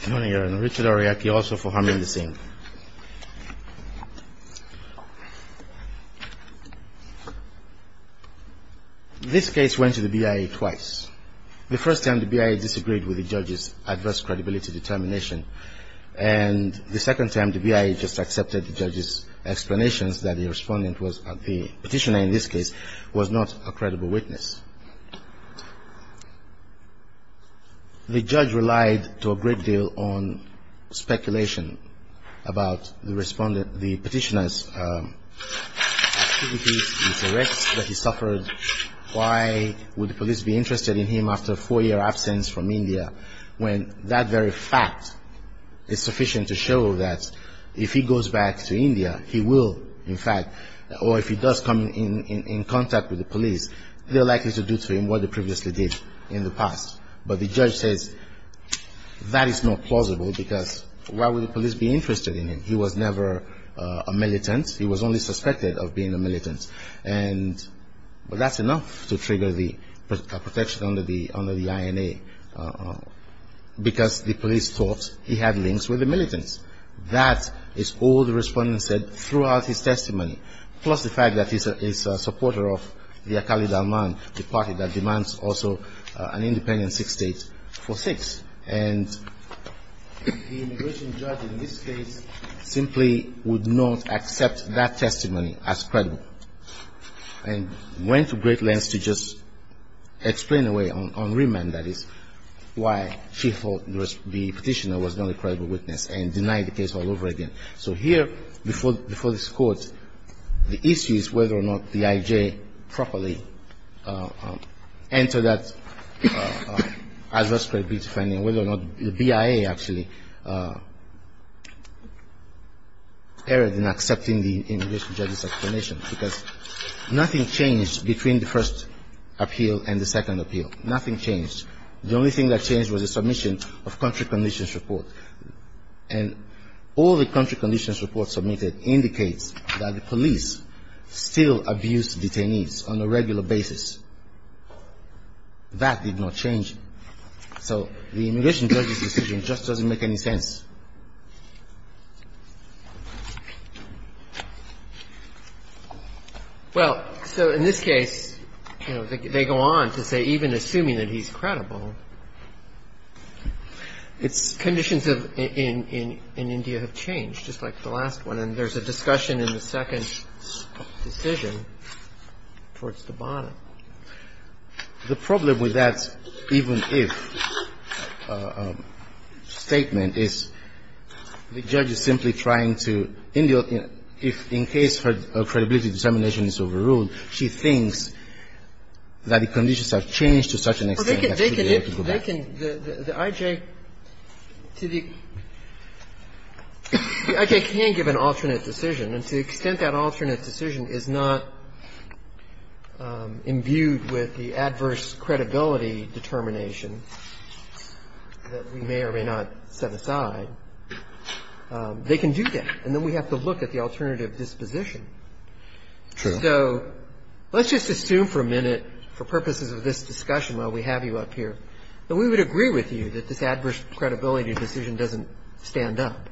Good morning, Your Honor. Richard Aroyake also for Harmony Singh. This case went to the BIA twice. The first time, the BIA disagreed with the judge's adverse credibility determination. And the second time, the BIA just accepted the judge's explanations that the respondent, the petitioner in this case, was not a credible witness. The judge relied to a great deal on speculation about the respondent, the petitioner's activities, his arrests that he suffered. Why would the police be interested in him after a four-year absence from India when that very fact is sufficient to show that if he goes back to India, he will, in fact, or if he does come in contact with the police, they're likely to do to him what they previously did in the past. But the judge says that is not plausible because why would the police be interested in him? He was never a militant. He was only suspected of being a militant. And that's enough to trigger the protection under the INA because the police thought he had links with the militants. That is all the respondent said throughout his testimony, plus the fact that he's a supporter of the Akali Dalman, the party that demands also an independent six states for six. And the immigration judge in this case simply would not accept that testimony as credible. And went to great lengths to just explain away, on remand, that is, why she thought the petitioner was not a credible witness and denied the case all over again. So here, before this Court, the issue is whether or not the IJ properly entered that adverse credibility finding, whether or not the BIA actually erred in accepting the immigration judge's explanation. Because nothing changed between the first appeal and the second appeal. Nothing changed. The only thing that changed was the submission of country conditions report. And all the country conditions report submitted indicates that the police still abuse detainees on a regular basis. That did not change. So the immigration judge's decision just doesn't make any sense. Well, so in this case, you know, they go on to say even assuming that he's credible, conditions in India have changed, just like the last one. And then there's a discussion in the second decision towards Kibana. The problem with that even if statement is the judge is simply trying to, in the, in case her credibility determination is overruled, she thinks that the conditions have changed to such an extent that she would be able to go back. But they can, the IJ, to the, the IJ can give an alternate decision. And to the extent that alternate decision is not imbued with the adverse credibility determination that we may or may not set aside, they can do that. And then we have to look at the alternative disposition. True. So let's just assume for a minute, for purposes of this discussion while we have you up here, that we would agree with you that this adverse credibility decision doesn't stand up.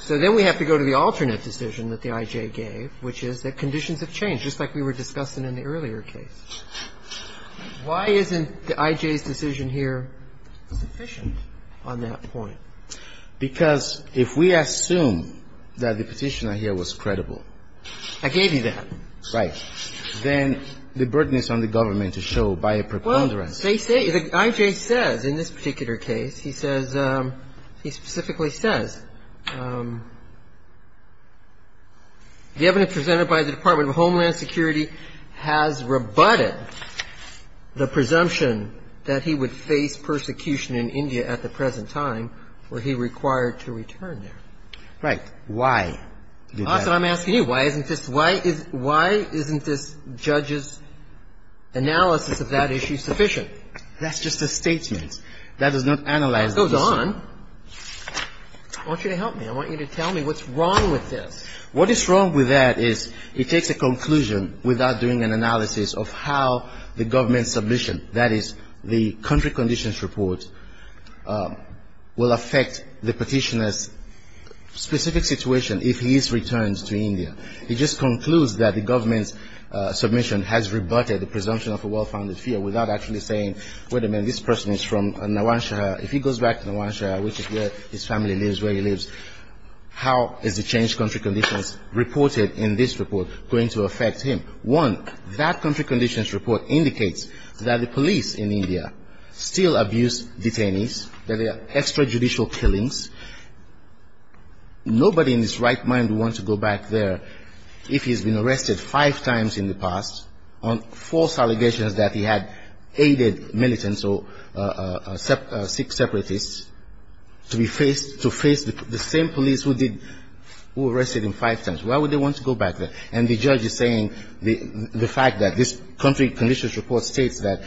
So then we have to go to the alternate decision that the IJ gave, which is that conditions have changed, just like we were discussing in the earlier case. Why isn't the IJ's decision here sufficient on that point? Because if we assume that the petitioner here was credible. I gave you that. Right. Then the burden is on the government to show by a preponderance. Well, they say, the IJ says in this particular case, he says, he specifically says, the evidence presented by the Department of Homeland Security has rebutted the presumption that he would face persecution in India at the present time where he required to return there. Why? That's what I'm asking you. Why isn't this, why isn't this judge's analysis of that issue sufficient? That's just a statement. That does not analyze the issue. That goes on. I want you to help me. I want you to tell me what's wrong with this. What is wrong with that is it takes a conclusion without doing an analysis of how the government's submission, that is, the country conditions report, will affect the petitioner's specific situation if he is returned to India. It just concludes that the government's submission has rebutted the presumption of a well-founded fear without actually saying, wait a minute, this person is from Nawanshah. If he goes back to Nawanshah, which is where his family lives, where he lives, how is the changed country conditions reported in this report going to affect him? One, that country conditions report indicates that the police in India still abuse detainees, that there are extrajudicial killings. Nobody in his right mind would want to go back there if he's been arrested five times in the past on false allegations that he had aided militants or Sikh separatists to be faced, to face the same police who arrested him five times. Why would they want to go back there? And the judge is saying the fact that this country conditions report states that,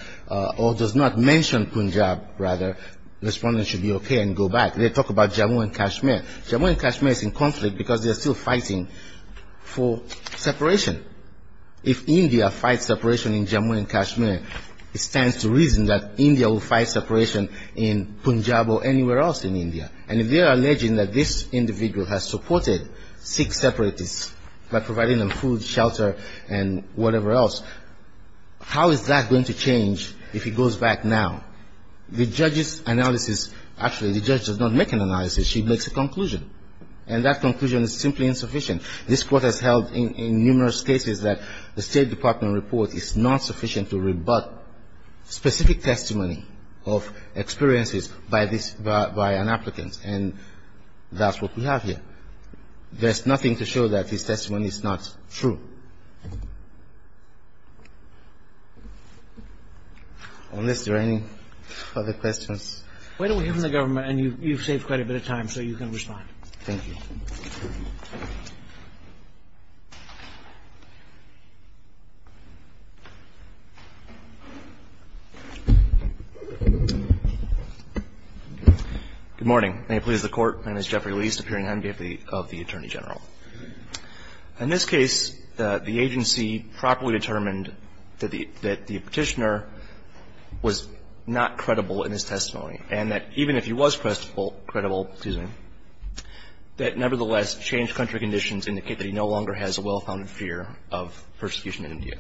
or does not mention Punjab, rather, the respondent should be okay and go back. They talk about Jammu and Kashmir. Jammu and Kashmir is in conflict because they are still fighting for separation. If India fights separation in Jammu and Kashmir, it stands to reason that India will fight separation in Punjab or anywhere else in India. And if they are alleging that this individual has supported Sikh separatists by providing them food, shelter, and whatever else, how is that going to change if he goes back now? The judge's analysis, actually, the judge does not make an analysis. She makes a conclusion. And that conclusion is simply insufficient. This Court has held in numerous cases that the State Department report is not sufficient to rebut specific testimony of experiences by this, by an applicant. And that's what we have here. There's nothing to show that this testimony is not true. Unless there are any other questions. Why don't we hear from the government? And you've saved quite a bit of time, so you can respond. Thank you. Good morning. May it please the Court. My name is Jeffrey Liest, appearing on behalf of the Attorney General. In this case, the agency properly determined that the petitioner was not credible in his testimony. And that even if he was credible, that nevertheless, changed country conditions indicate that he no longer has a well-founded fear of persecution in India.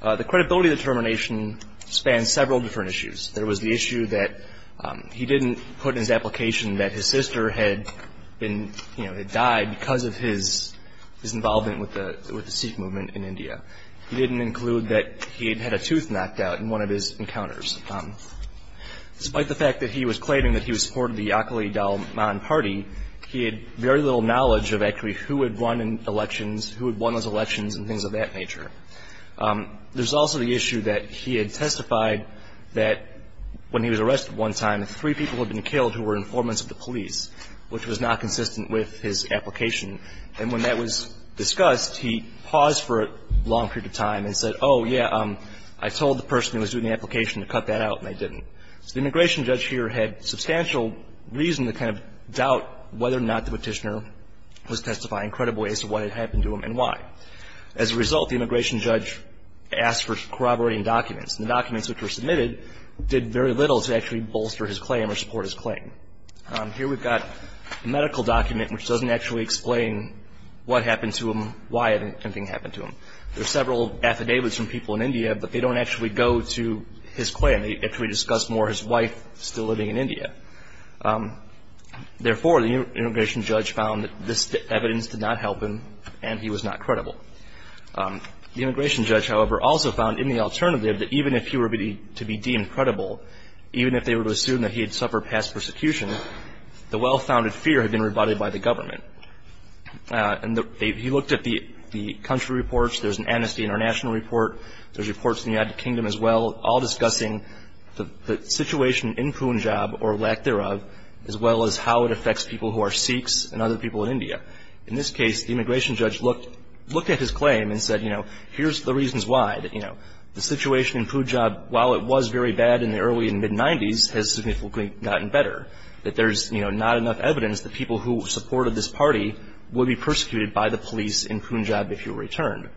The credibility determination spans several different issues. There was the issue that he didn't put in his application that his sister had been, you know, had died because of his involvement with the Sikh movement in India. He didn't include that he had had a tooth knocked out in one of his encounters. Despite the fact that he was claiming that he was a supporter of the Yakali Dalman Party, he had very little knowledge of actually who had won elections, who had won those elections and things of that nature. There's also the issue that he had testified that when he was arrested one time, three people had been killed who were informants of the police, which was not consistent with his application. And when that was discussed, he paused for a long period of time and said, oh, yeah, I told the person who was doing the application to cut that out, and I didn't. So the immigration judge here had substantial reason to kind of doubt whether or not the petitioner was testifying credibly as to what had happened to him and why. As a result, the immigration judge asked for corroborating documents, and the documents which were submitted did very little to actually bolster his claim or support his claim. Here we've got a medical document which doesn't actually explain what happened to him, why anything happened to him. There are several affidavits from people in India, but they don't actually go to his claim. They actually discuss more his wife still living in India. Therefore, the immigration judge found that this evidence did not help him, and he was not credible. The immigration judge, however, also found in the alternative that even if he were to be deemed credible, even if they were to assume that he had suffered past persecution, the well-founded fear had been rebutted by the government. And he looked at the country reports. There's an Amnesty International report. There's reports in the United Kingdom as well, all discussing the situation in Punjab, or lack thereof, as well as how it affects people who are Sikhs and other people in India. In this case, the immigration judge looked at his claim and said, you know, here's the reasons why. You know, the situation in Punjab, while it was very bad in the early and mid-'90s, has significantly gotten better, that there's, you know, not enough evidence that people who supported this party would be persecuted by the police in Punjab if he were returned.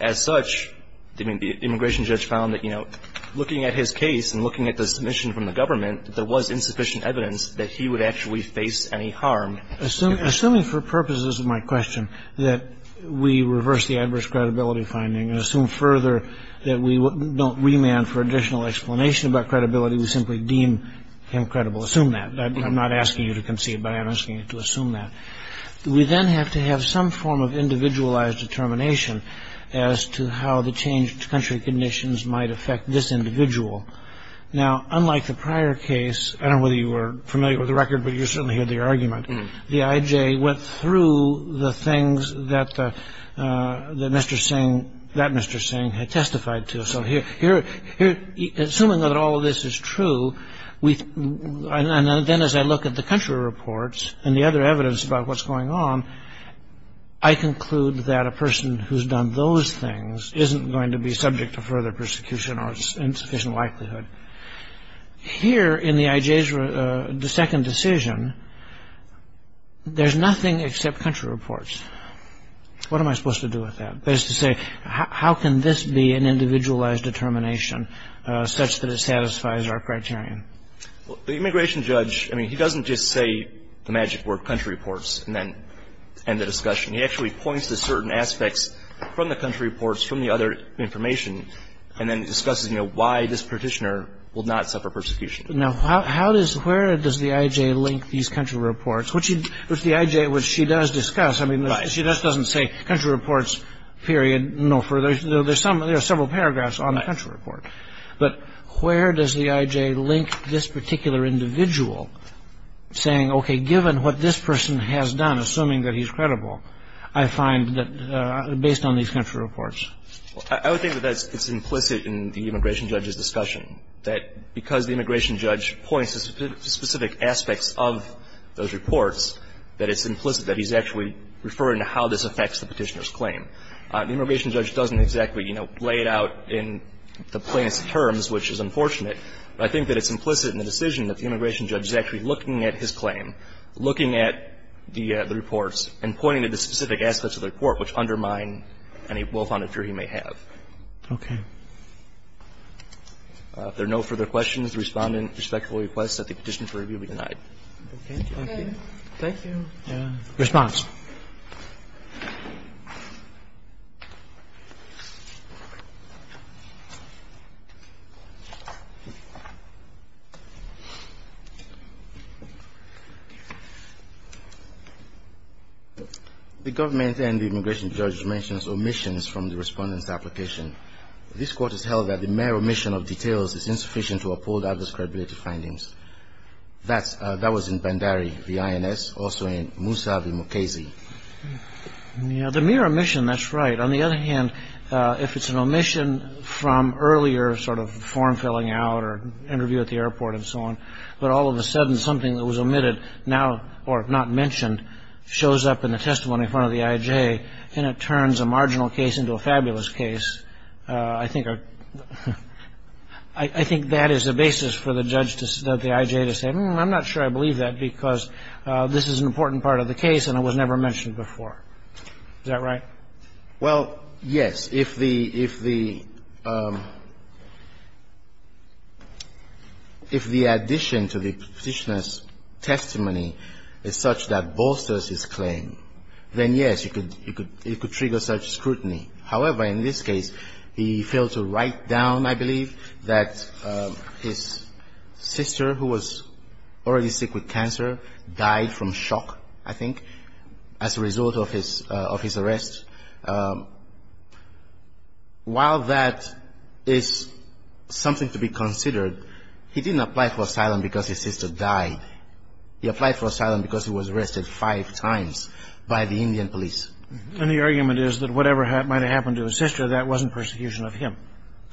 As such, the immigration judge found that, you know, looking at his case and looking at the submission from the government, there was insufficient evidence that he would actually face any harm. Assuming for purposes of my question that we reverse the adverse credibility finding and assume further that we don't remand for additional explanation about credibility, we simply deem him credible. Assume that. I'm not asking you to concede, but I'm asking you to assume that. We then have to have some form of individualized determination as to how the changed country conditions might affect this individual. Now, unlike the prior case, I don't know whether you were familiar with the record, but you certainly heard the argument, the IJ went through the things that Mr. Singh, that Mr. Singh, had testified to. So here, assuming that all of this is true, and then as I look at the country reports and the other evidence about what's going on, I conclude that a person who's done those things isn't going to be subject to further persecution or its insufficient likelihood. Here in the IJ's second decision, there's nothing except country reports. What am I supposed to do with that? That is to say, how can this be an individualized determination such that it satisfies our criterion? The immigration judge, I mean, he doesn't just say the magic word country reports and then end the discussion. He actually points to certain aspects from the country reports, from the other information, and then discusses, you know, why this petitioner will not suffer persecution. Now, where does the IJ link these country reports, which the IJ, which she does discuss, I mean, she just doesn't say country reports, period, no further. There are several paragraphs on the country report. But where does the IJ link this particular individual saying, okay, given what this person has done, assuming that he's credible, I find that based on these country reports? I would think that that's implicit in the immigration judge's discussion, that because the immigration judge points to specific aspects of those reports, that it's implicit that he's actually referring to how this affects the petitioner's claim. The immigration judge doesn't exactly, you know, lay it out in the plaintiff's terms, which is unfortunate, but I think that it's implicit in the decision that the immigration judge is actually looking at his claim, looking at the reports and pointing to the specific aspects of the report which undermine any well-founded jury he may have. Roberts. Okay. If there are no further questions, the Respondent respectfully requests that the petitioner for review be denied. Thank you. Thank you. Response. The government and the immigration judge mentions omissions from the Respondent's application. This court has held that the mere omission of details is insufficient to uphold others' credibility findings. That was in Bandari v. INS, also in Moussa v. Mukasey. Yeah. The mere omission, that's right. On the other hand, if it's an omission from earlier sort of form-filling out or interview at the airport and so on, but all of a sudden something that was omitted now or not mentioned shows up in the testimony in front of the IJ, and it turns a marginal case into a fabulous case, I think that is the basis for the judge to decide that the IJ has said, well, I'm not sure I believe that because this is an important part of the case and it was never mentioned before. Is that right? Well, yes. If the addition to the petitioner's testimony is such that bolsters his claim, then yes, it could trigger such scrutiny. However, in this case, he failed to write down, I believe, that his sister, who was already sick with cancer, died from shock, I think, as a result of his arrest. While that is something to be considered, he didn't apply for asylum because his sister died. He applied for asylum because he was arrested five times by the Indian police. And the argument is that whatever might have happened to his sister, that wasn't persecution of him.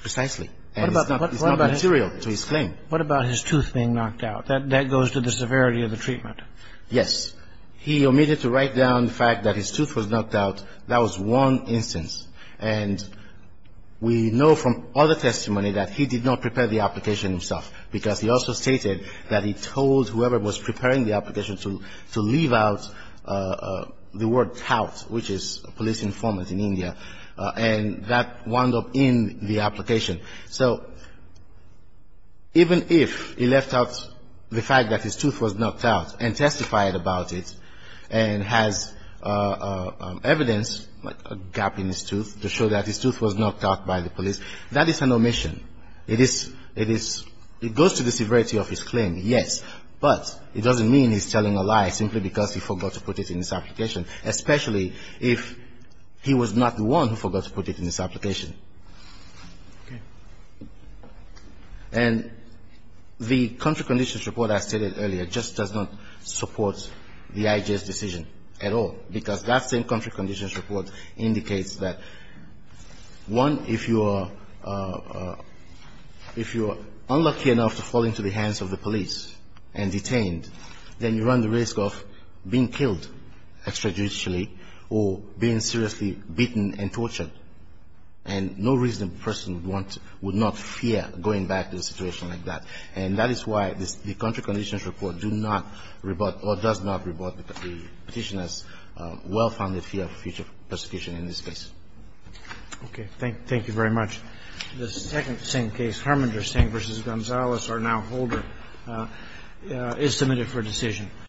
Precisely. And it's not material to his claim. What about his tooth being knocked out? That goes to the severity of the treatment. Yes. He omitted to write down the fact that his tooth was knocked out. That was one instance. And we know from other testimony that he did not prepare the application himself because he also stated that he told whoever was preparing the application to leave without the word tout, which is police informant in India. And that wound up in the application. So even if he left out the fact that his tooth was knocked out and testified about it and has evidence, like a gap in his tooth, to show that his tooth was knocked out by the police, that is an omission. It is goes to the severity of his claim, yes. But it doesn't mean he's telling a lie simply because he forgot to put it in his application, especially if he was not the one who forgot to put it in his application. Okay. And the country conditions report I stated earlier just does not support the IJ's decision at all because that same country conditions report indicates that, one, if you are unlucky enough to fall into the hands of the police and detained, then you run the risk of being killed extrajudicially or being seriously beaten and tortured. And no reasonable person would not fear going back to a situation like that. And that is why the country conditions report does not rebut the Petitioner's well-founded fear of future persecution in this case. Okay. Thank you very much. Thank you, Your Honor. The second same case, Harmonger Stang v. Gonzales, our now holder, is submitted for decision.